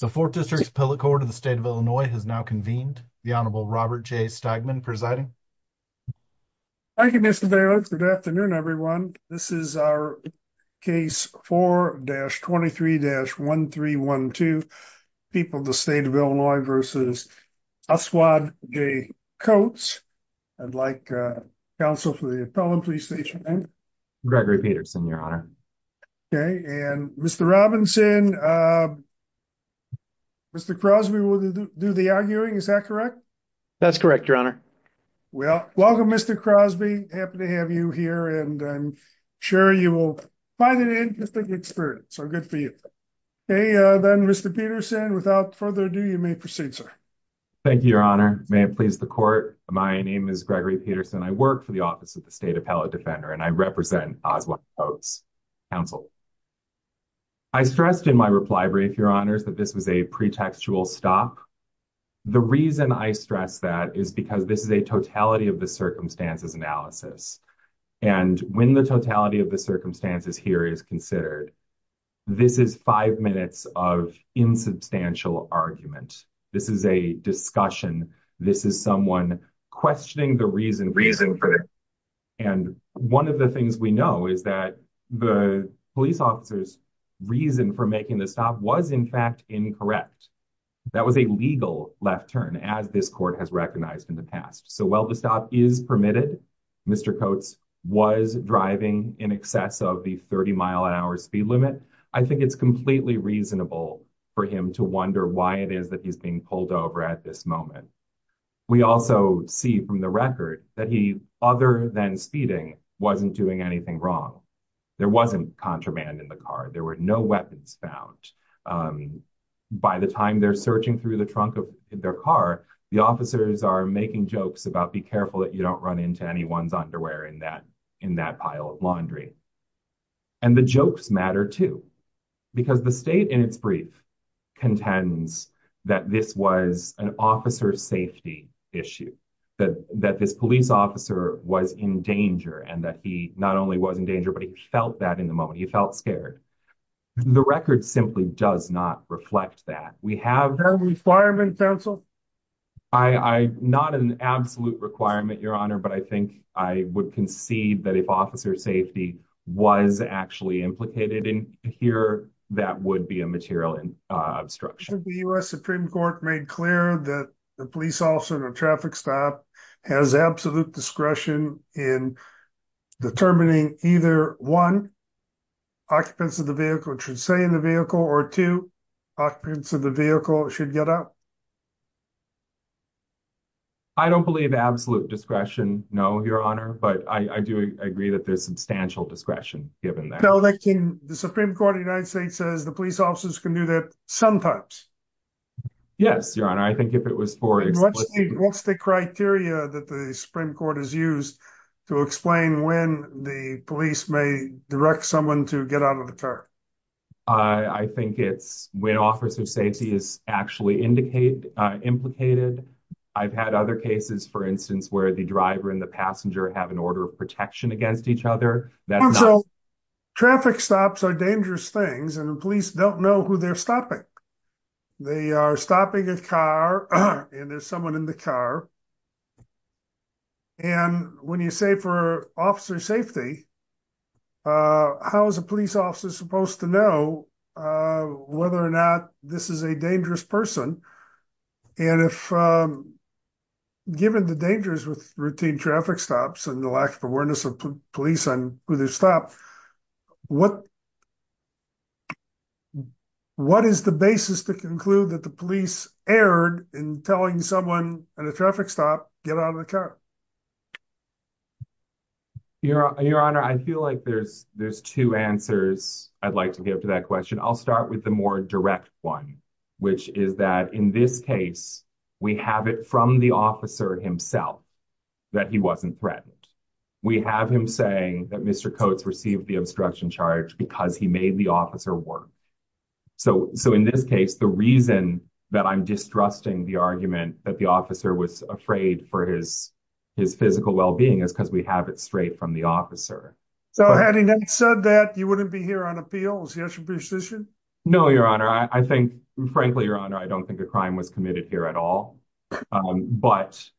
the fourth district appellate court of the state of illinois has now convened the honorable robert j stegman presiding thank you mr davis good afternoon everyone this is our case 4-23-1312 people the state of illinois versus aswad j coats i'd like uh counsel for the appellant please state your name gregory peterson your honor okay and mr robinson uh mr crosby will do the arguing is that correct that's correct your honor well welcome mr crosby happy to have you here and i'm sure you will find it an interesting experience so good for you hey uh then mr peterson without further ado you may proceed sir thank you your honor may it please the court my name is gregory peterson i work for the office of the state appellate defender and i represent aswad coats counsel i stressed in my reply brief your honors that this was a pretextual stop the reason i stress that is because this is a totality of the circumstances analysis and when the totality of the circumstances here is considered this is five minutes of insubstantial argument this is a discussion this is someone questioning the reason reason for and one of the things we know is that the police officer's reason for making the stop was in fact incorrect that was a legal left turn as this court has recognized in the past so while the stop is permitted mr coats was driving in excess of the 30 mile an hour speed limit i think it's completely reasonable for him to wonder why it is that he's being pulled over at this moment we also see from the record that he other than speeding wasn't doing anything wrong there wasn't contraband in the car there were no weapons found by the time they're searching through the trunk of their car the officers are making jokes about be careful that you don't run into anyone's underwear in that pile of laundry and the jokes matter too because the state in its brief contends that this was an officer safety issue that that this police officer was in danger and that he not only was in danger but he felt that in the moment he felt scared the record simply does not reflect that we requirement counsel i i not an absolute requirement your honor but i think i would concede that if officer safety was actually implicated in here that would be a material in obstruction the u.s supreme court made clear that the police officer in a traffic stop has absolute discretion in determining either one occupants of the vehicle should stay in the vehicle should get up i don't believe absolute discretion no your honor but i i do agree that there's substantial discretion given that so they can the supreme court of the united states says the police officers can do that sometimes yes your honor i think if it was for what's the criteria that the supreme court is used to explain when the police may direct someone to get out of the car i i think it's when officer safety is actually indicate uh implicated i've had other cases for instance where the driver and the passenger have an order of protection against each other that traffic stops are dangerous things and the police don't know who they're stopping they are stopping a car and there's someone in the car and when you say for officer safety uh how is a police officer supposed to know uh whether or not this is a dangerous person and if um given the dangers with routine traffic stops and the lack of awareness of police and who they stop what what is the basis to conclude that the police erred in telling someone at a traffic stop get out of the car your your honor i feel like there's there's two answers i'd like to give to that question i'll start with the more direct one which is that in this case we have it from the officer himself that he wasn't threatened we have him saying that mr coates received the obstruction charge because he made the officer work so so in this case the reason that i'm distrusting the argument that the officer was afraid for his his physical well-being is because we have it straight from the officer so having said that you wouldn't be here on appeals yes your position no your honor i think frankly your honor i don't think a crime was committed here at all but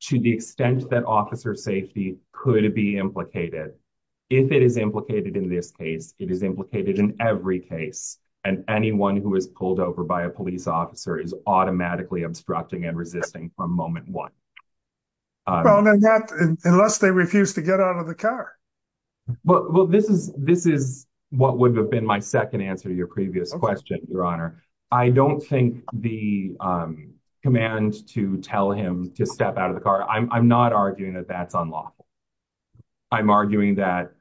to the extent that officer safety could be implicated if it is implicated in this case it is implicated in every case and anyone who is pulled over by a police officer is automatically obstructing and resisting from moment one well then that unless they refuse to get out of the car well well this is this is what would have been my second answer to your previous question your honor i don't think the um command to tell him to step out of the car i'm not arguing that that's unlawful i'm arguing that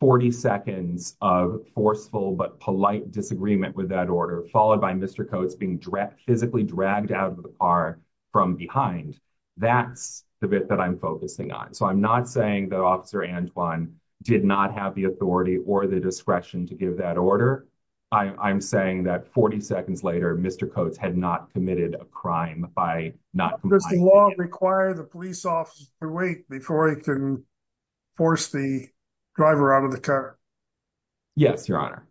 40 seconds of forceful but polite disagreement with that order followed by mr coates being physically dragged out of the car from behind that's the bit that i'm focusing on so i'm not saying that officer and one did not have the authority or the discretion to give that order i i'm saying that 40 seconds later mr coates had not committed a crime by not this law require the police officer to wait before he can force the driver out of the car yes your honor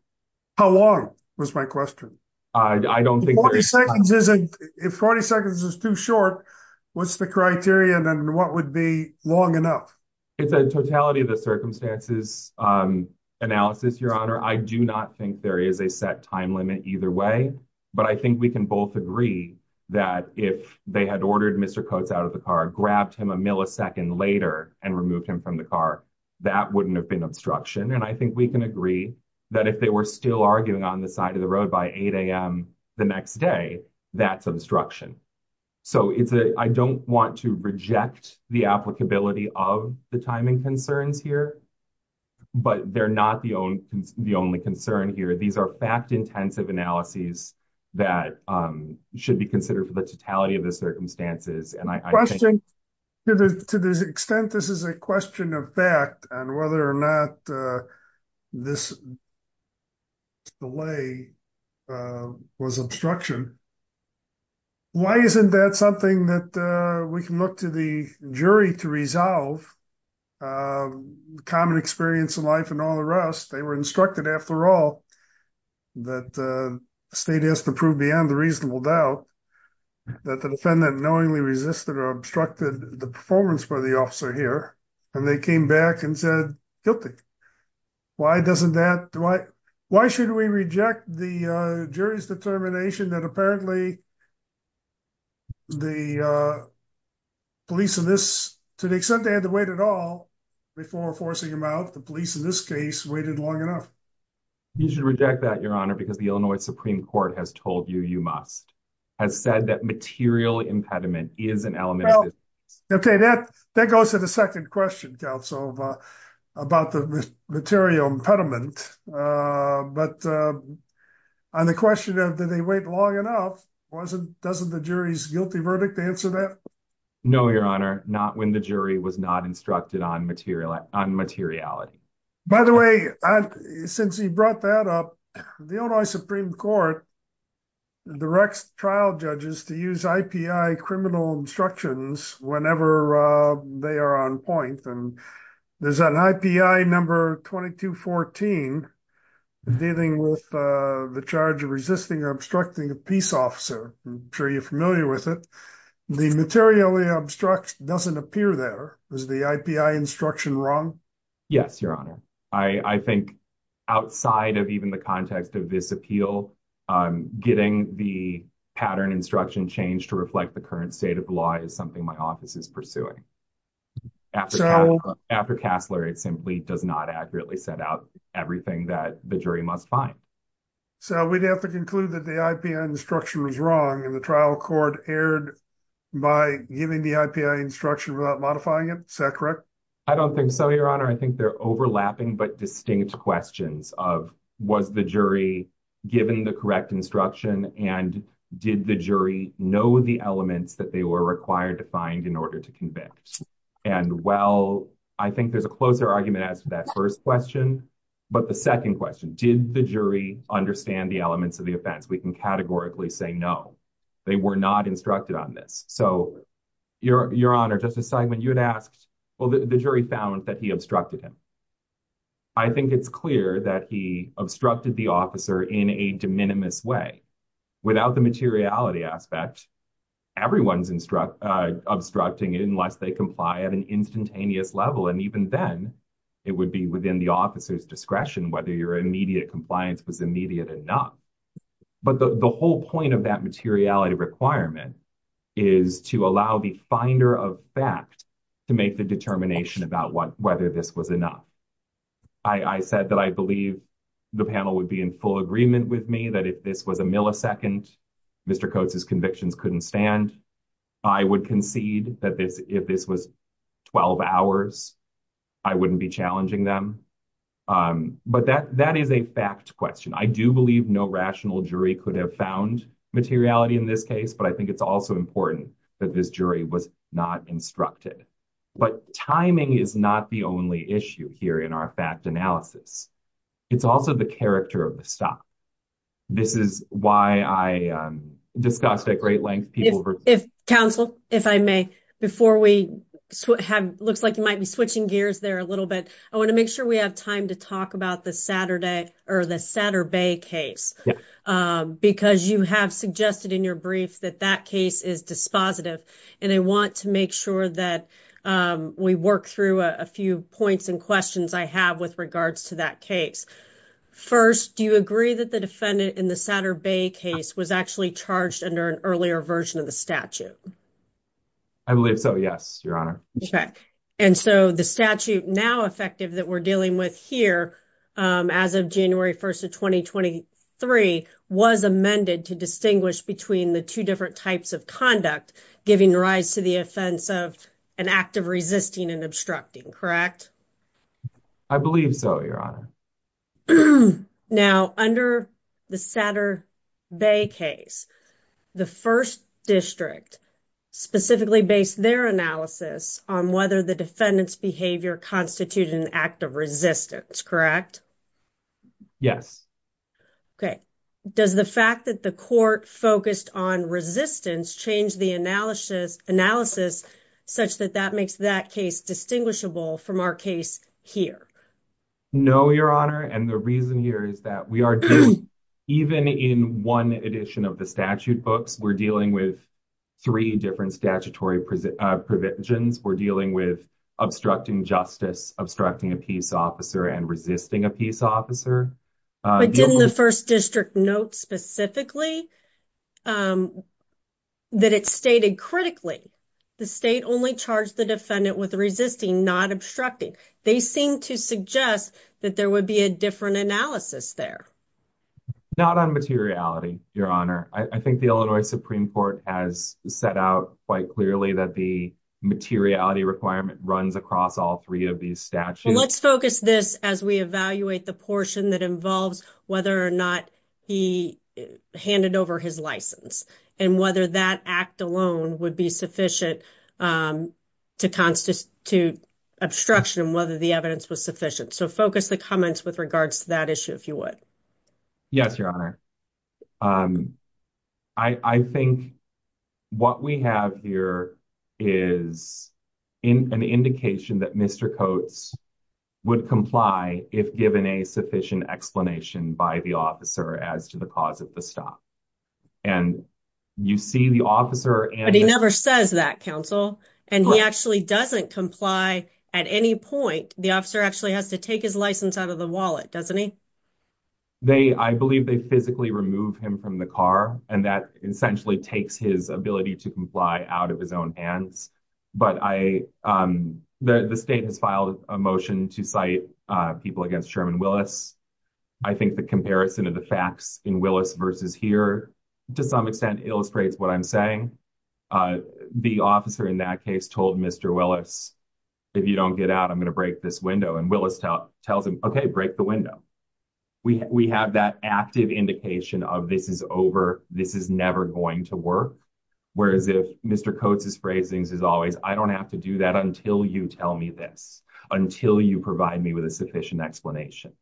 how long was my question i don't think 40 seconds isn't if 40 seconds is too short what's the criteria and what would be long enough it's a totality of the circumstances um analysis your honor i do not think there is a set time limit either way but i think we can both agree that if they had ordered mr coates out of the car grabbed him a millisecond later and removed him from the car that wouldn't have been obstruction and i think we can agree that if they were still arguing on the side of the road by 8 a.m the next day that's obstruction so it's a i don't want to reject the applicability of the timing concerns here but they're not the only the only concern here these are fact intensive analyses that um should be considered for the totality of the circumstances and i question to this extent this is a question of fact and whether or not uh this delay uh was obstruction why isn't that something that uh we can look to the jury to resolve uh common experience in life and all the rest they were instructed after all that uh state has to prove beyond the reasonable doubt that the defendant knowingly resisted or the performance by the officer here and they came back and said guilty why doesn't that do i why should we reject the uh jury's determination that apparently the uh police in this to the extent they had to wait at all before forcing him out the police in this case waited long enough you should reject that your honor because the illinois supreme court has told you you must has said that material impediment is an element okay that that goes to the second question council about the material impediment uh but uh on the question of do they wait long enough wasn't doesn't the jury's guilty verdict answer that no your honor not when the jury was not instructed on material on materiality by the way i since he brought that up the illinois supreme court directs trial judges to use ipi criminal instructions whenever uh they are on point and there's an ipi number 2214 dealing with uh the charge of resisting or obstructing a peace officer i'm sure you're familiar with it the materially obstruction doesn't appear there is the ipi instruction wrong yes your honor i i think outside of even the context of this appeal getting the pattern instruction change to reflect the current state of the law is something my office is pursuing after castler it simply does not accurately set out everything that the jury must find so we'd have to conclude that the ipi instruction was wrong and the trial court aired by giving the ipi instruction without modifying it is that correct i don't think so your honor i think they're overlapping but distinct questions of was the jury given the correct instruction and did the jury know the elements that they were required to find in order to convict and well i think there's a closer argument as to that first question but the second question did the jury understand the elements of the offense we can categorically say no they were not instructed on this so your your honor justice segment you had asked well the jury found that he obstructed him i think it's clear that he obstructed the officer in a de minimis way without the materiality aspect everyone's instruct uh obstructing unless they comply at an instantaneous level and even then it would be within the officer's discretion whether your immediate compliance was immediate enough but the the whole point of that materiality requirement is to allow the finder of fact to make the determination about what whether this was enough i i said that i believe the panel would be in full agreement with me that if this was a millisecond mr coates's convictions couldn't stand i would concede that this if this was 12 hours i wouldn't be challenging them um but that is a fact question i do believe no rational jury could have found materiality in this case but i think it's also important that this jury was not instructed but timing is not the only issue here in our fact analysis it's also the character of the stop this is why i um discussed at great length people if counsel if i may before we have looks like you might be switching gears there a little bit i want to make sure we have time to talk about the saturday or the saturday case um because you have suggested in your brief that that case is dispositive and i want to make sure that um we work through a few points and questions i have with regards to that case first do you agree that the defendant in the saturday case was actually charged under an earlier version of the statute i believe so yes your honor okay and so the statute now effective that we're dealing with here um as of january 1st of 2023 was amended to distinguish between the two different types of conduct giving rise to the offense of an act of resisting and obstructing correct i believe so your honor now under the saturday case the first district specifically based their analysis on whether the defendant's behavior constituted an act of resistance correct yes okay does the fact that the court focused on resistance change the analysis analysis such that that makes that case distinguishable from our case here no your honor and the reason here is that we are doing even in one edition of the statute books we're dealing with three different statutory uh provisions we're dealing with obstructing justice obstructing a peace officer and resisting a peace officer but didn't the first district note specifically um that it's stated critically the state only charged the defendant with resisting not obstructing they seem to suggest that there would be a different analysis there not on materiality your honor i think the illinois supreme court has set out quite clearly that the materiality requirement runs across all three of these statutes let's focus this as we evaluate the portion that involves whether or not he handed over his license and whether that act alone would be sufficient um to constitute obstruction whether the evidence was sufficient so focus the comments with regards to that issue if you would yes your honor um i i think what we have here is in an indication that mr coates would comply if given a sufficient explanation by the officer as to the cause of the stop and you see the officer and he never says that counsel and he actually doesn't comply at any point the officer actually has to take his license out of the wallet doesn't he they i believe they physically remove him from the car and that essentially takes his ability to comply out of his own hands but i um the state has filed a motion to cite uh people against sherman willis i think the comparison of the facts in willis versus here to some extent illustrates what i'm saying uh the officer in that case told mr willis if you don't get out i'm going to break this window and willis tells him okay break the window we we have that active indication of this is over this is never going to work whereas if mr coates's phrasings is always i don't have to do that until you tell me this until you provide me with a sufficient explanation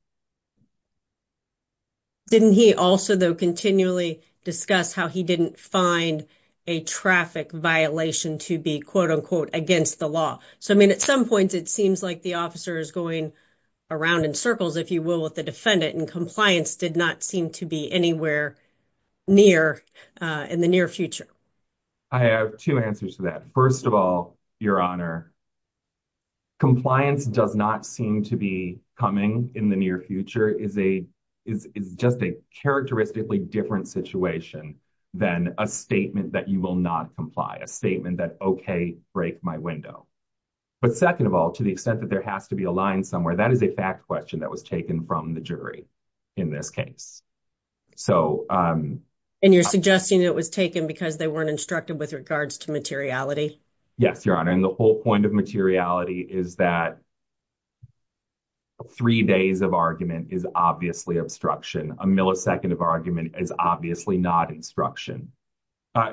didn't he also though continually discuss how he didn't find a traffic violation to be quote unquote against the law so i mean at some points it seems like the officer is going around in circles if you will with the defendant and compliance did not seem to be anywhere near uh in the near future i have two answers to that first of all your honor compliance does not seem to be coming in the near future is a is just a characteristically different situation than a statement that you will not comply a statement that okay break my window but second of all to the extent that there has to be a line somewhere that is a fact question that was taken from the jury in this case so um and you're suggesting it was taken because they weren't instructed with regards to materiality yes your honor and the whole point of materiality is that three days of argument is obviously obstruction a millisecond of argument is obviously not instruction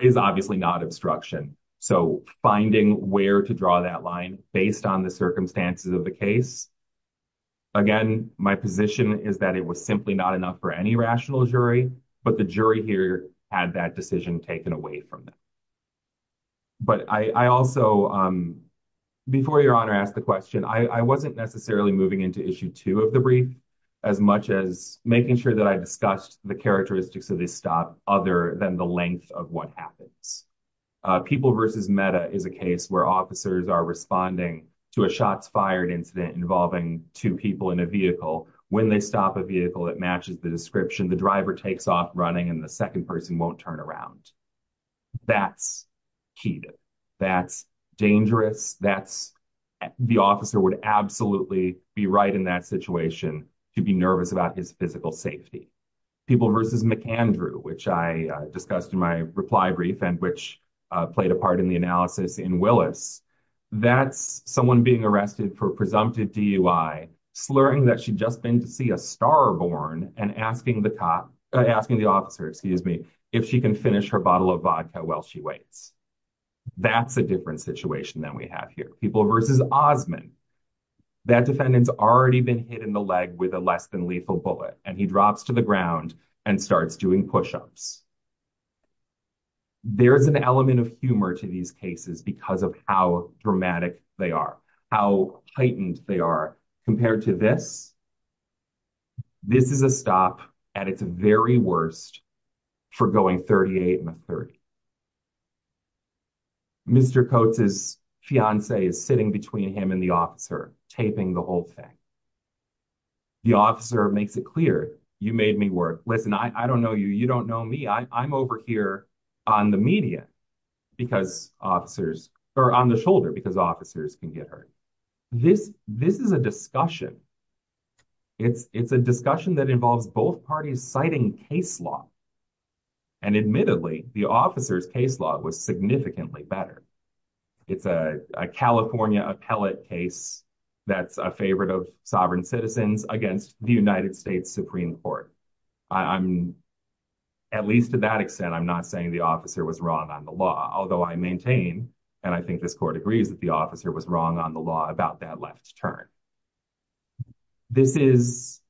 is obviously not obstruction so finding where to draw that line based on the circumstances of the case again my position is that it was simply not enough for any rational jury but the jury here had that decision taken away from them but i i also um before your honor asked the question i i wasn't necessarily moving into issue two of the brief as much as making sure that i discussed the characteristics of this stop other than the length of what happens people versus meta is a case where officers are responding to a shots fired incident involving two people in a vehicle when they stop a vehicle it matches the description the driver takes off running and the second person won't turn around that's key that's dangerous that's the officer would absolutely be right in that situation to be nervous about his physical safety people versus mcandrew which i discussed in my reply brief and which played a part in the analysis in willis that's someone being arrested for presumptive dui slurring that she'd just been to see a star born and asking the cop asking the officer excuse me if she can finish her bottle of vodka while she waits that's a different situation than we have here people versus osmond that defendant's already been hit in the leg with a less than lethal bullet and he drops to the ground and starts doing push-ups there's an element of humor to these cases because of how dramatic they are how heightened they are compared to this this is a stop at its very worst for going 38 and a 30. Mr. Coates's fiancee is sitting between him and the officer taping the whole thing the officer makes it clear you made me work listen i i don't know you you don't know me i i'm over here on the media because officers are on the shoulder because officers can get hurt this this is a discussion it's it's a discussion that involves both parties citing case law and admittedly the officer's case law was significantly better it's a california appellate case that's a favorite of sovereign citizens against the united states supreme court i'm at least to that extent i'm not saying the officer was wrong on the law although i maintain and i think this court agrees that the officer was wrong on the law about that left turn this is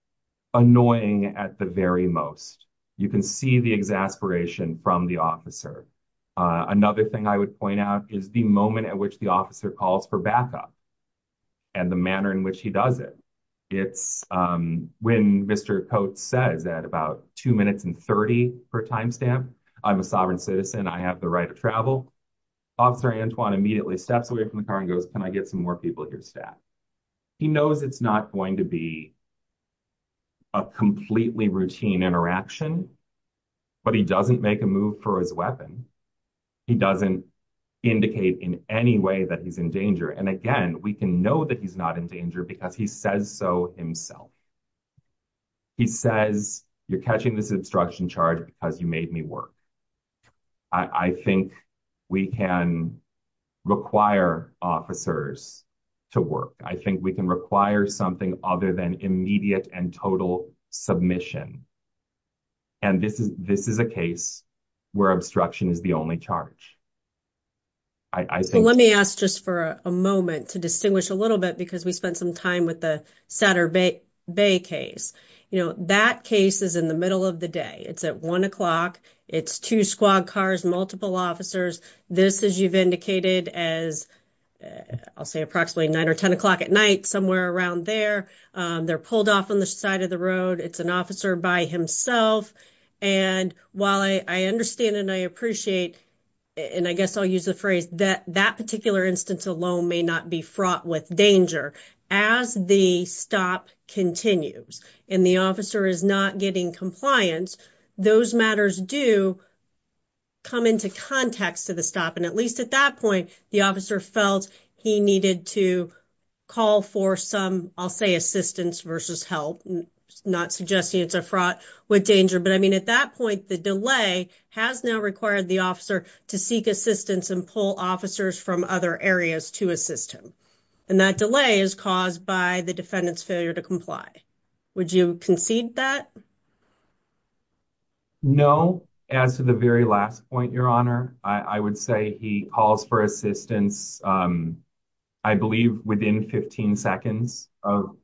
annoying at the very most you can see the exasperation from the officer another thing i would point out is the moment at which the officer calls for backup and the manner in which he does it it's um when Mr. Coates says at about two minutes and 30 per time stamp i'm a sovereign citizen i have the right to travel officer Antoine immediately steps away from the car and goes can i get some more people at your staff he knows it's not going to be a completely routine interaction but he doesn't make a move for his weapon he doesn't indicate in any way that he's in danger and again we can know that he's not in danger because he says so himself he says you're catching this obstruction charge because you made me work i think we can require officers to work i think we can require something other than immediate and total submission and this is this is a case where obstruction is the only charge i i think let me ask just for a moment to distinguish a little bit because we spent some time with the saturday bay case you know that case is in the middle of the day it's at one o'clock it's two squad cars multiple officers this is you've indicated as i'll say approximately nine or ten o'clock at night somewhere around there they're pulled off on the side of the road it's an officer by himself and while i i understand and i appreciate and i guess i'll use the phrase that that particular instance alone may not be fraught with danger as the stop continues and the officer is not getting compliance those matters do come into context to the stop and at least at that point the officer felt he needed to call for some i'll say assistance versus help not suggesting it's a fraud with danger but i mean at that point the delay has now required the officer to seek assistance and pull officers from other areas to assist him and that delay is caused by the defendant's failure to comply would you concede that no as to the very last point your honor i i would say he calls for assistance um i believe within 15 seconds of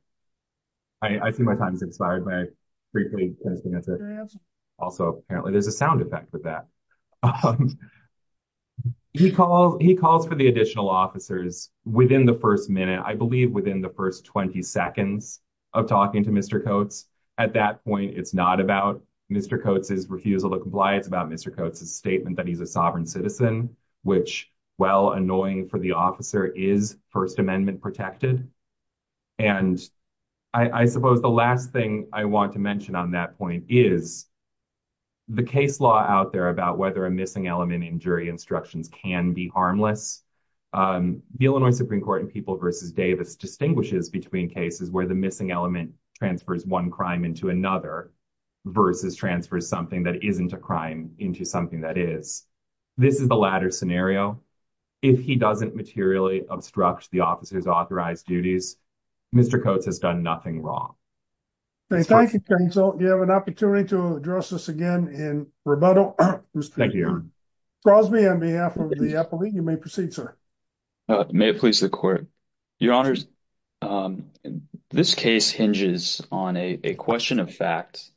i i see my time is expired by briefly also apparently there's a sound effect with that he calls he calls for the additional officers within the first minute i believe within the first 20 seconds of talking to mr coates at that point it's not about mr coates's refusal to comply it's about mr coates's statement that he's a sovereign citizen which well annoying for the officer is first amendment protected and i i suppose the last thing i want to mention on that point is the case law out there about whether a missing element in jury instructions can be harmless um the illinois supreme court and people versus davis distinguishes between cases where the missing element transfers one crime into another versus transfers something that isn't a crime into something that is this is the latter scenario if he doesn't materially obstruct the officer's authorized duties mr coates has done nothing wrong thank you so you have an opportunity to address this again in rebuttal thank you cross me on behalf of the appellee you may proceed sir may it please the court your honors um this case hinges on a question of fact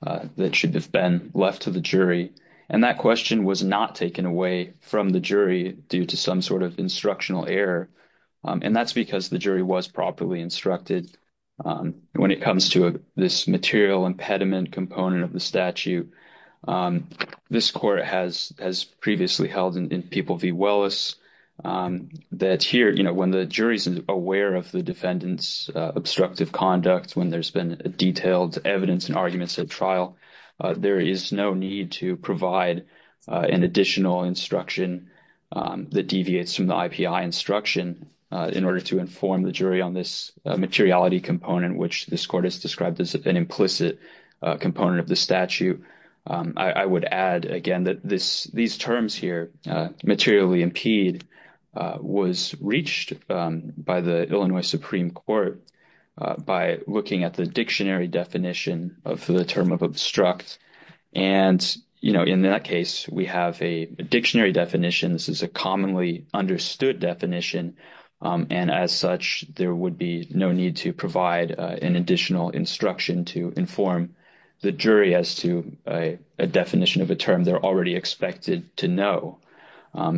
that should have been left to the jury and that question was not taken away from the jury due to some sort of instructional error and that's because the jury was properly instructed when it comes to this material impediment component of the statute this court has has previously held in people v wellis um that here you know when the jury's aware of the defendant's obstructive conduct when there's been detailed evidence and arguments at there is no need to provide an additional instruction that deviates from the ipi instruction in order to inform the jury on this materiality component which this court has described as an implicit component of the statute i would add again that this these terms here materially impede was reached by the illinois supreme court by looking at the dictionary definition of the term of obstruct and you know in that case we have a dictionary definition this is a commonly understood definition and as such there would be no need to provide an additional instruction to inform the jury as to a definition of a term they're already expected to know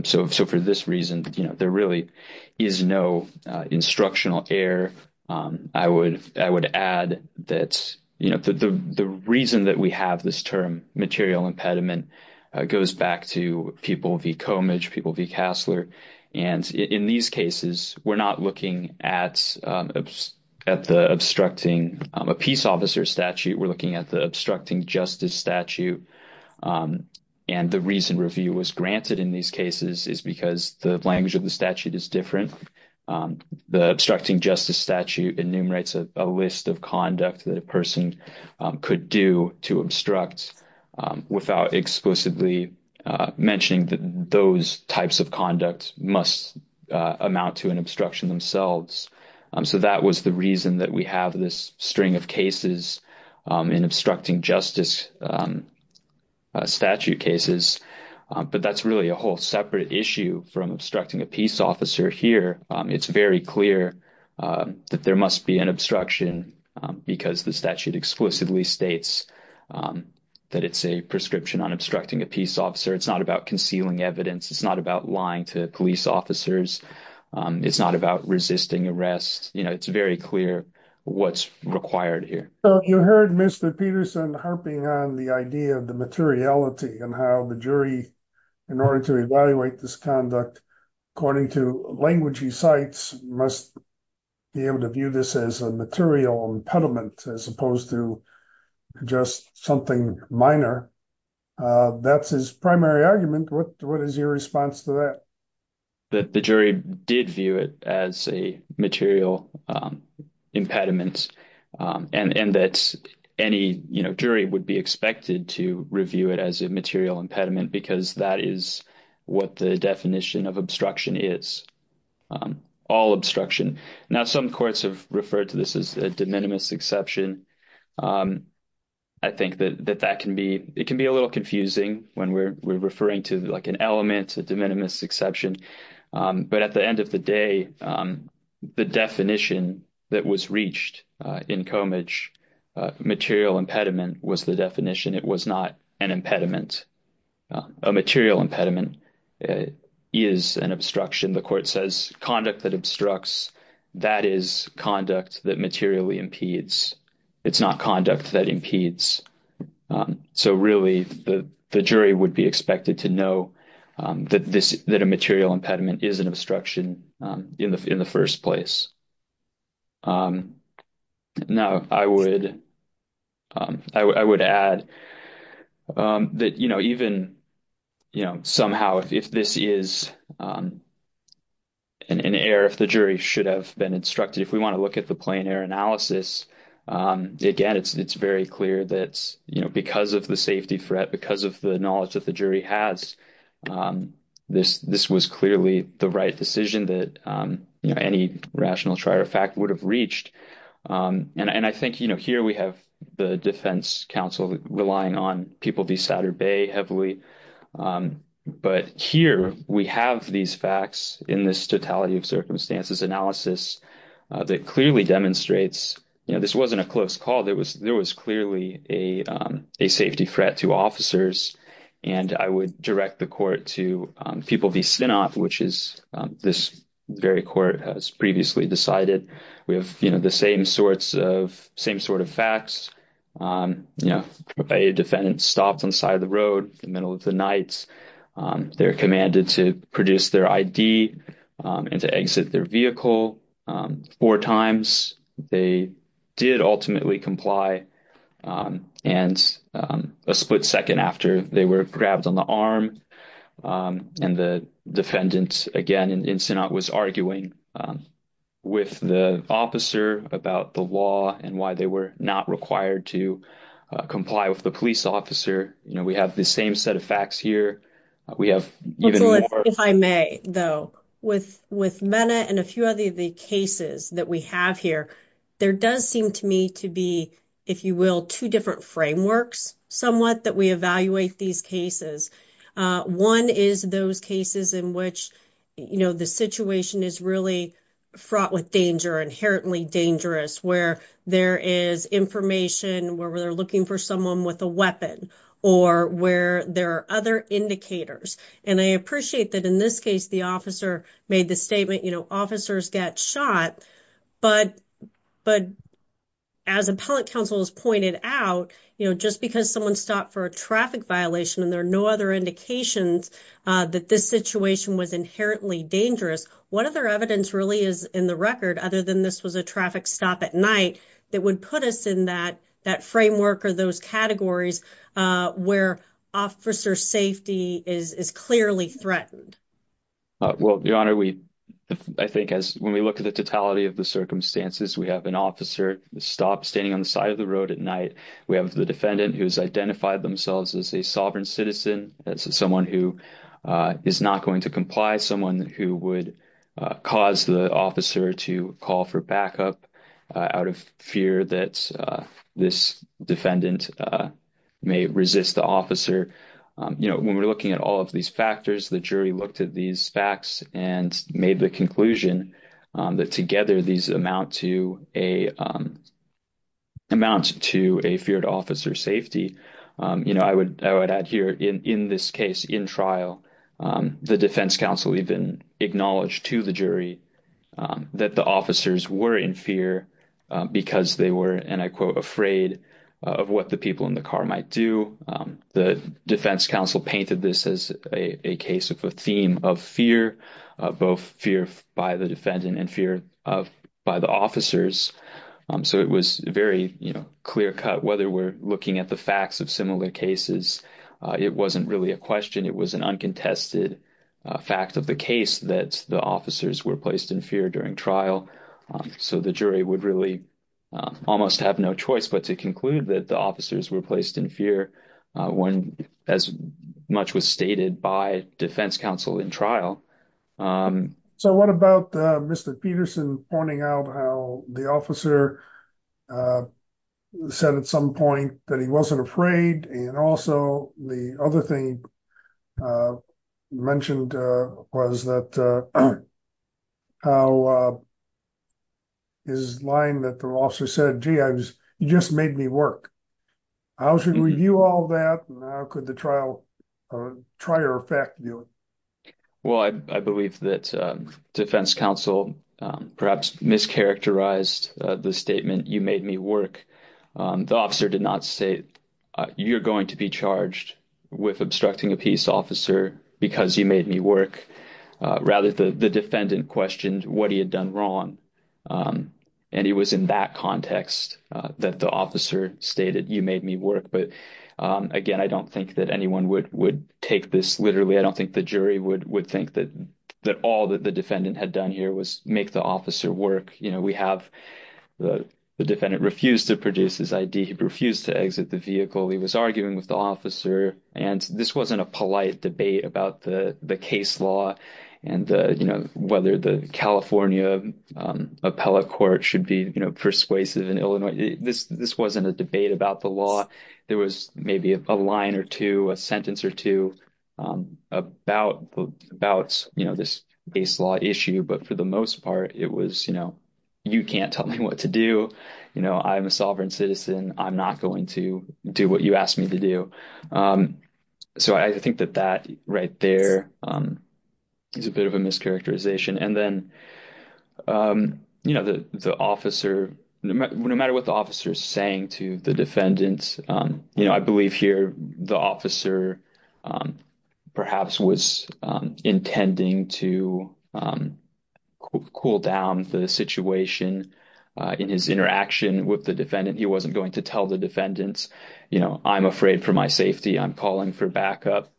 so so for this reason you know there really is no instructional error i would i would add that you know the the reason that we have this term material impediment goes back to people v comage people v cassler and in these cases we're not looking at at the obstructing a peace officer statute we're looking at the obstructing justice statute and the reason review was granted in these cases is because the language of the statute is different the obstructing justice statute enumerates a list of conduct that a person could do to obstruct without exclusively mentioning that those types of conduct must amount to an obstruction themselves so that was the reason that we have this string of cases in obstructing justice statute cases but that's really a whole separate issue from obstructing a peace officer here it's very clear that there must be an obstruction because the statute exclusively states that it's a prescription on obstructing a peace officer it's not about concealing evidence it's not about lying to police officers it's not about resisting arrest you know it's very clear what's required here you heard mr peterson harping on the idea of the materiality and how the jury in order to evaluate this conduct according to language he cites must be able to view this as a material impediment as opposed to just something minor that's his primary argument what what is your response to that that the jury did view it as a material impediment and and that any you know jury would be expected to review it as a material impediment because that is what the definition of obstruction is all obstruction now some courts have referred to this as a de minimis exception i think that that can be it can be a little confusing when we're referring to like an element a de minimis exception but at the end of the day the definition that was reached in comage material impediment was the definition it was not an impediment a material impediment is an obstruction the court says conduct that obstructs that is conduct that materially impedes it's not conduct that impedes so really the the jury would be expected to know that this that a material impediment is an obstruction in the in the first place now i would i would add that you know even you know somehow if this is an error if the jury should have been instructed if we want to look at the plain air analysis again it's it's very clear that's you know because of the safety threat because of the knowledge that the jury has this this was clearly the right decision that you know any rational trier fact would have reached and i think you know here we have the defense counsel relying on people be saturday heavily but here we have these facts in this totality of circumstances analysis that clearly demonstrates you know this wasn't a close call there was there was clearly a a safety threat to officers and i would direct the court to people v spinoff which is this very court has previously decided we have you know the same sorts of same sort of facts you know a defendant stopped on side of the road the middle of the night they're commanded to produce their id and to exit their vehicle four times they did ultimately comply and a split second after they were grabbed on the arm and the defendant again in sinat was arguing with the officer about the law and why they were not required to comply with the police officer you know we have the same set of facts here we have even if i may though with with menna and a few other the cases that we have here there does seem to me to be if you will two different frameworks somewhat that we evaluate these cases uh one is those cases in which you know the situation is really fraught with danger inherently dangerous where there is information where they're looking for someone with a weapon or where there are other indicators and i appreciate that in this case the officer made the statement you know officers get shot but but as appellate counsel has pointed out you know just because someone stopped for a traffic violation and there are no other indications that this situation was inherently dangerous what other evidence really is in the record other than this was a traffic stop at night that would put us in that that framework or those categories uh where officer safety is is clearly threatened well your honor we i think as when we look at the totality of the circumstances we have an officer stopped standing on the side of the road at night we have the defendant who's identified themselves as a sovereign citizen that's someone who is not going to comply someone who would cause the officer to call for backup out of fear that this defendant may resist the officer you know when we're looking at all of these factors the jury looked at these facts and made the conclusion that together these amount to a amount to a feared officer safety you know i would i would add here in in this case in trial the defense counsel even acknowledged to the jury that the officers were in fear because they were and i quote afraid of what the people in the car might do the defense counsel painted this as a case of a theme of fear both fear by the defendant and fear of by the officers so it was very you know clear-cut whether we're looking at the facts of similar cases it wasn't really a question it was an uncontested fact of the case that the officers were placed in fear during trial so the jury would really almost have no choice but to conclude that the officers were placed in fear when as much was stated by defense counsel in trial so what about mr peterson pointing out how the officer uh said at some point that he wasn't afraid and also the other thing mentioned uh was that uh how uh his line that the officer said gee i was you just made me work i was going to review all that and how could the trial try or affect you well i believe that defense counsel perhaps mischaracterized the statement you made me work the officer did not say you're going to be charged with obstructing a peace officer because you made me work rather the defendant questioned what he had done wrong and he was in that context that the officer stated you made me work but again i don't think that anyone would would take this literally i don't think the jury would would think that that all that the defendant had done here was make the officer work you know we have the the defendant refused to produce his id he refused to exit the vehicle he was arguing with the officer and this wasn't a polite debate about the the case law and uh you know whether the california um appellate court should be you know persuasive in illinois this this wasn't a debate about the law there was maybe a line or two a sentence or two um about about you know this base law issue but for the most part it was you know you can't tell me what to do you know i'm a sovereign citizen i'm not going to do what you asked me to do um so i think that that right there um is a bit of a mischaracterization and then um you know the the officer no matter what the saying to the defendants um you know i believe here the officer um perhaps was um intending to cool down the situation uh in his interaction with the defendant he wasn't going to tell the defendants you know i'm afraid for my safety i'm calling for backup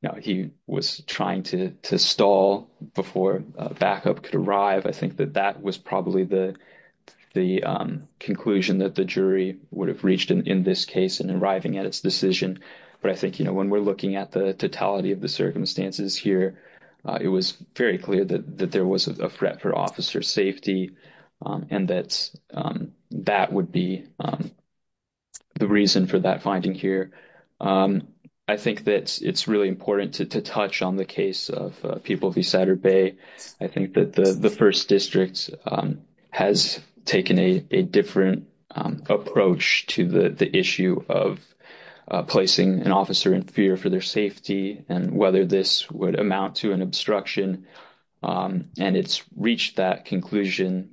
you know he was trying to to would have reached in this case and arriving at its decision but i think you know when we're looking at the totality of the circumstances here it was very clear that that there was a threat for officer safety and that's that would be the reason for that finding here i think that it's really important to touch on the case of people v saturday i think that the first district has taken a different approach to the the issue of placing an officer in fear for their safety and whether this would amount to an obstruction and it's reached that conclusion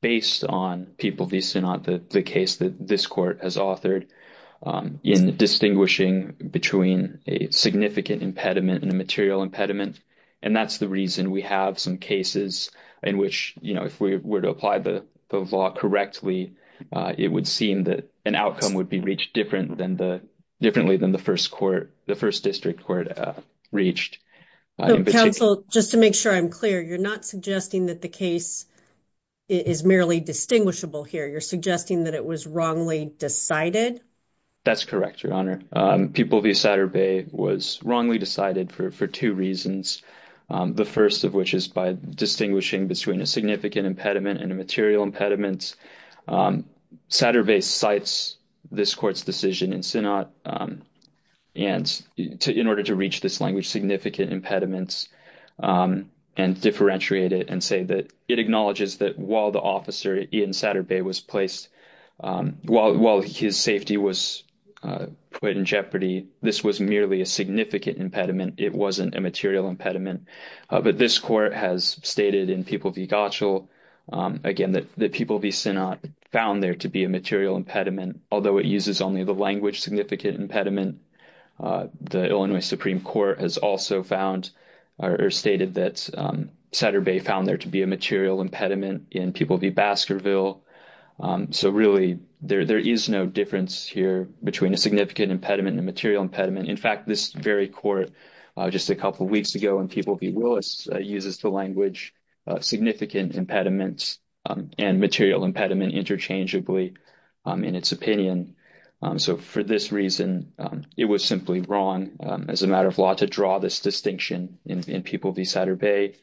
based on people these are not the the case that this court has authored in distinguishing between a significant impediment and a material impediment and that's the reason we have some cases in which you know if we were to apply the the law correctly uh it would seem that an outcome would be reached different than the differently than the first court the first district court uh reached council just to make sure i'm clear you're not suggesting that the case is merely distinguishable here you're suggesting that it was wrongly decided that's correct your honor um people v saturday was wrongly decided for for two reasons the first of which is by distinguishing between a significant impediment and a material impediment saturday cites this court's decision in senate and in order to reach this language significant impediments and differentiate it and say that it acknowledges that while the officer in saturday was placed while while his safety was put in jeopardy this was merely a significant impediment it wasn't a material impediment but this court has stated in people v gotchell again that the people v senate found there to be a material impediment although it uses only the language significant impediment the illinois supreme court has also found or stated that saturday found there to be a material impediment in people v baskerville so really there there is no difference here between a significant impediment and material impediment in fact this very court uh just a couple weeks ago and people v willis uses the language significant impediments and material impediment interchangeably in its opinion so for this reason it was simply wrong as a matter of law to draw this distinction in people v saturday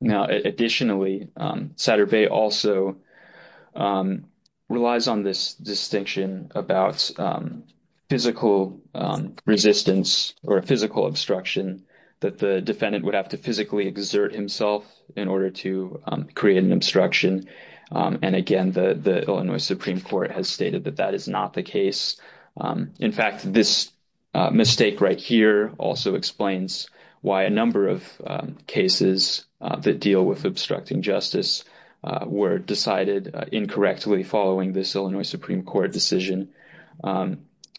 now additionally saturday also relies on this distinction about physical resistance or physical obstruction that the defendant would have to physically exert himself in order to create an obstruction and again the the illinois supreme court has stated that that is not the case in fact this mistake right here also explains why a number of cases that deal with obstructing justice were decided incorrectly following this illinois supreme court decision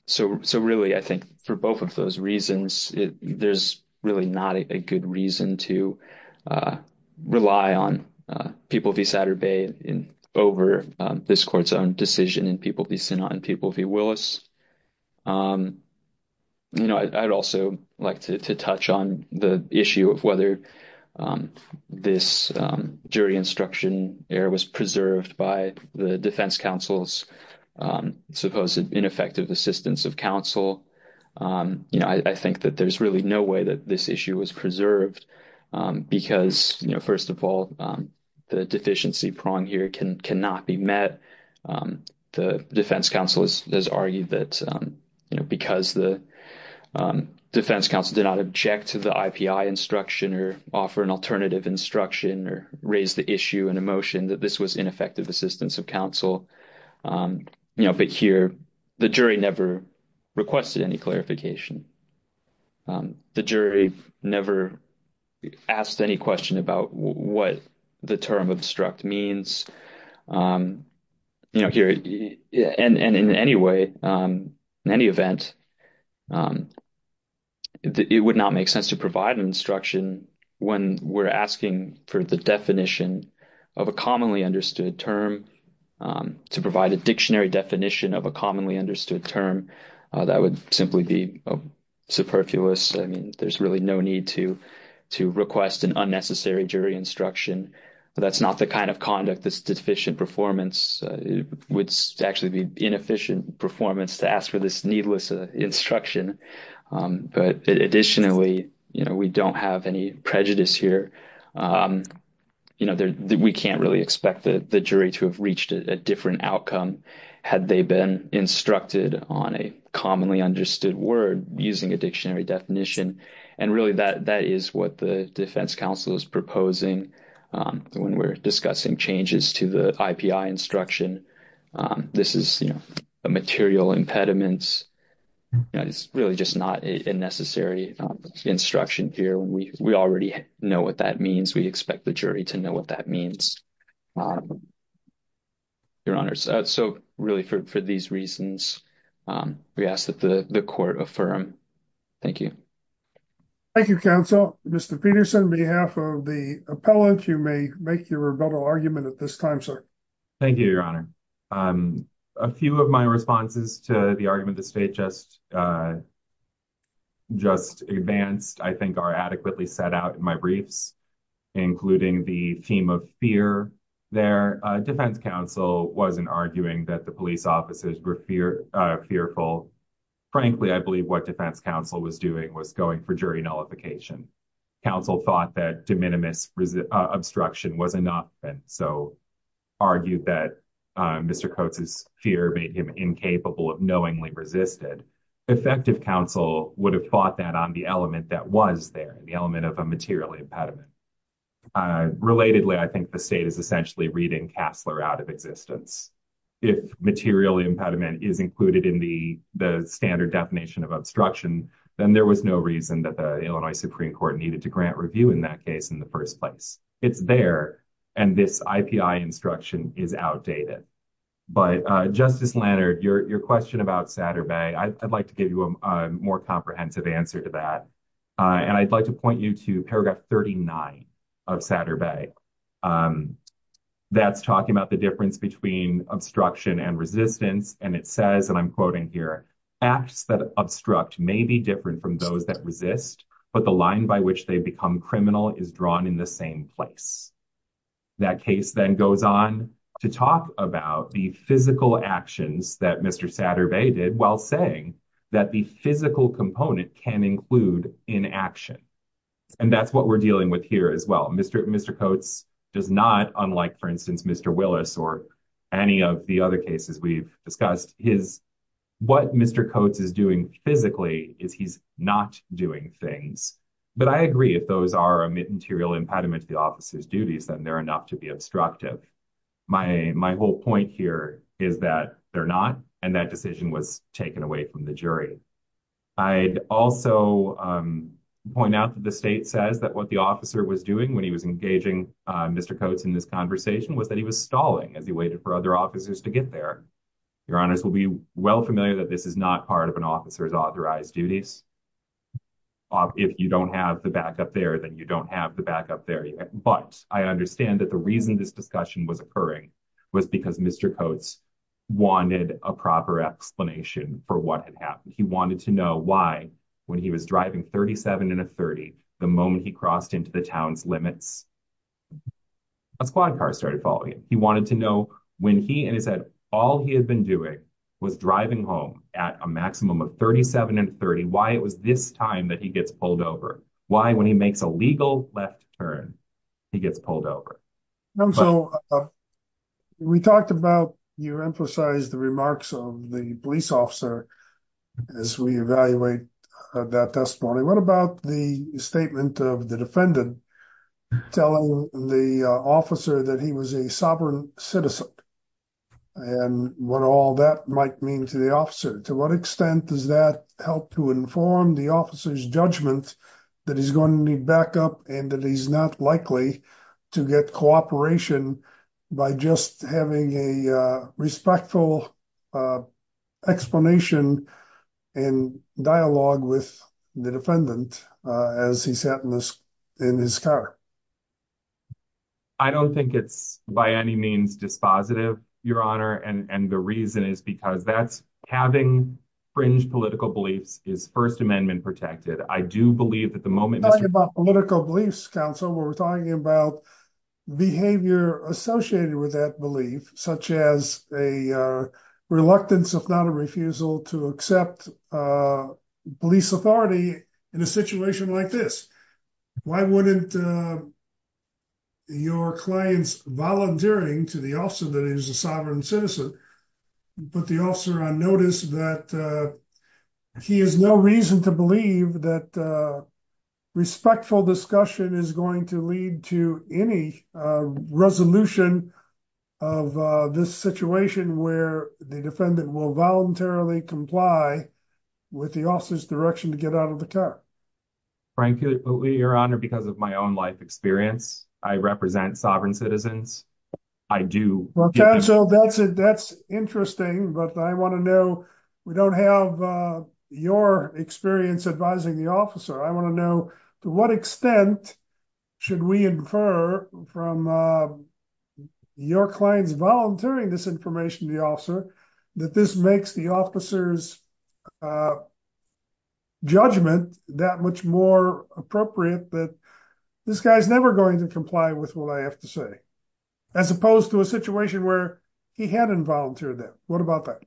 so so really i think for both of those reasons there's really not a good reason to rely on people v saturday in over this court's own decision in people v senate and people v willis you know i'd also like to touch on the issue of whether this jury instruction error was preserved by the defense counsel's supposed ineffective assistance of counsel um you know i think that there's really no way that this issue was preserved um because you know first of all um the deficiency prong here can cannot be met um the defense counsel has argued that um you know because the um defense counsel did not object to the ipi instruction or offer an alternative instruction or raise the issue and emotion that this was of counsel um you know but here the jury never requested any clarification um the jury never asked any question about what the term obstruct means um you know here and and in any way um in any event um it would not make sense to provide instruction when we're asking for the definition of a commonly understood term to provide a dictionary definition of a commonly understood term that would simply be superfluous i mean there's really no need to to request an unnecessary jury instruction that's not the kind of conduct that's deficient performance it would actually be inefficient performance to ask for this needless instruction um but additionally you know we don't have any prejudice here um you know there we can't really expect the jury to have reached a different outcome had they been instructed on a commonly understood word using a dictionary definition and really that that is what the defense counsel is proposing when we're discussing changes to the ipi instruction um this is you know a material impediment it's really just not a necessary instruction here we we already know what that means we expect the jury to know what that means your honor so really for these reasons um we ask that the the court affirm thank you thank you counsel mr peterson behalf of the appellate you may make your rebuttal argument at this time sir thank you your honor um a few of my responses to the argument the state just uh just advanced i think are adequately set out in my briefs including the theme of fear there uh defense counsel wasn't arguing that the police officers were fear uh fearful frankly i believe what defense counsel was doing was going for jury nullification counsel thought that de minimis obstruction was enough and so argued that mr coates's fear made him incapable of knowingly resisted effective counsel would have fought that on the element that was there the element of a material impediment uh relatedly i think the state is essentially reading cassler out of existence if material impediment is included in the the standard definition of obstruction then there was no reason that the illinois supreme court needed to grant review in that case in the first place it's there and this ipi instruction is outdated but uh justice lannard your your question about saturday i'd like to give you a more comprehensive answer to that and i'd like to point you to paragraph 39 of saturday um that's talking about the difference between obstruction and resistance and it says and i'm quoting here acts that obstruct may be different from those that resist but the line by which they become criminal is drawn in the same place that case then goes on to talk about the physical actions that mr saturday did while saying that the physical component can include in action and that's what we're dealing with here as well mr coates does not unlike for instance mr willis or any of the other cases we've discussed his what mr coates is doing physically is he's not doing things but i agree if those are a material impediment to the officer's duties then they're enough to be obstructive my my whole point here is that they're not and that decision was taken away from the jury i'd also um point out that the state says that what the officer was doing when he was engaging uh mr coates in this conversation was that he was stalling as he waited for other officers to get there your honors will be well familiar that this is not part of an officer's authorized duties if you don't have the backup there then you don't have the backup there but i understand that the reason this discussion was occurring was because mr coates wanted a proper explanation for what had happened he wanted to know why when he was driving 37 and a 30 the moment he crossed into the town's limits a squad car started following him he wanted to know when he and he said all he had been doing was driving home at a maximum of 37 and 30 why it was this time that he gets pulled over why when he makes a legal left turn he gets pulled over and so we talked about you emphasized the remarks of the police officer as we evaluate that testimony what about the statement of the defendant telling the officer that he was a sovereign citizen and what all that might mean to the officer to what extent does that help to inform the officer's judgment that he's going to need backup and that he's not likely to get cooperation by just having a respectful explanation and dialogue with the defendant as he sat in this in his car i don't think it's by any means dispositive your honor and and the reason is because that's having fringe political beliefs is first amendment protected i do believe about political beliefs counsel we're talking about behavior associated with that belief such as a reluctance if not a refusal to accept police authority in a situation like this why wouldn't your clients volunteering to the officer that is a sovereign citizen put the officer on notice that he has no reason to believe that respectful discussion is going to lead to any resolution of this situation where the defendant will voluntarily comply with the officer's direction to get out of the car frankly your honor because of my own life experience i represent sovereign citizens i do well counsel that's it that's interesting but i want to know we don't have uh your experience advising the officer i want to know to what extent should we infer from uh your clients volunteering this information the officer that this makes the uh judgment that much more appropriate that this guy's never going to comply with what i have to say as opposed to a situation where he hadn't volunteered that what about that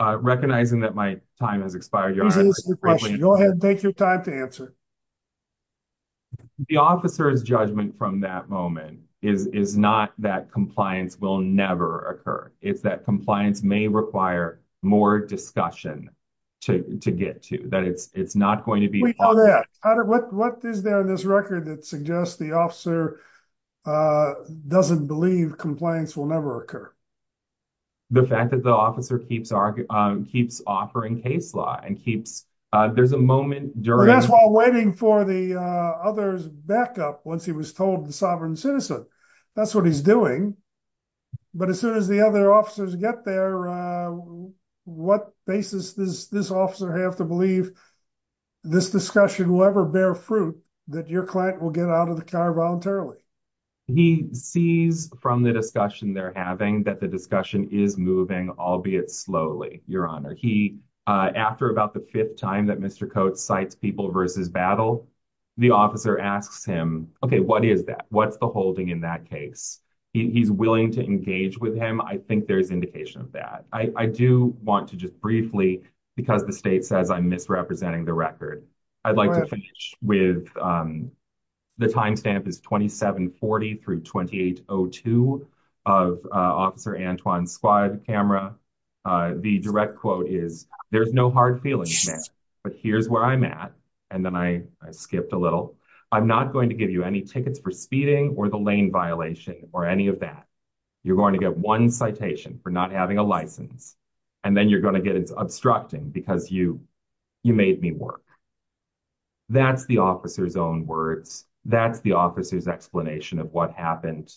uh recognizing that my time has expired go ahead take your time to answer the officer's judgment from that moment is is not that compliance will never occur it's that compliance may require more discussion to to get to that it's it's not going to be all that what what is there in this record that suggests the officer uh doesn't believe compliance will never occur the fact that the officer keeps our um keeps offering case law and keeps uh there's a moment during that's while waiting for the uh others backup once he was told the sovereign citizen that's what he's doing but as soon as the other officers get there uh what basis does this officer have to believe this discussion will ever bear fruit that your client will get out of the car voluntarily he sees from the discussion they're having that the discussion is moving albeit slowly your honor he uh after about the time that mr coat cites people versus battle the officer asks him okay what is that what's the holding in that case he's willing to engage with him i think there's indication of that i i do want to just briefly because the state says i'm misrepresenting the record i'd like to finish with um the time stamp is 27 40 through 2802 of uh officer antoine's squad camera uh the direct quote is there's no hard feelings but here's where i'm at and then i i skipped a little i'm not going to give you any tickets for speeding or the lane violation or any of that you're going to get one citation for not having a license and then you're going to get it's obstructing because you you made me work that's the officer's own words that's the officer's explanation of what happened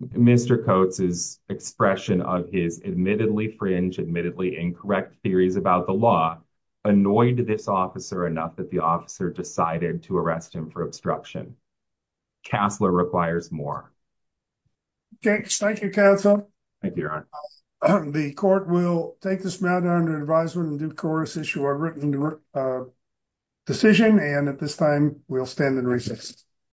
mr coates is expression of his admittedly fringe admittedly incorrect theories about the law annoyed this officer enough that the officer decided to arrest him for obstruction castler requires more okay thank you counsel thank you your honor the court will take this matter under advisement and do course issue a written decision and at this time we'll stand adjourned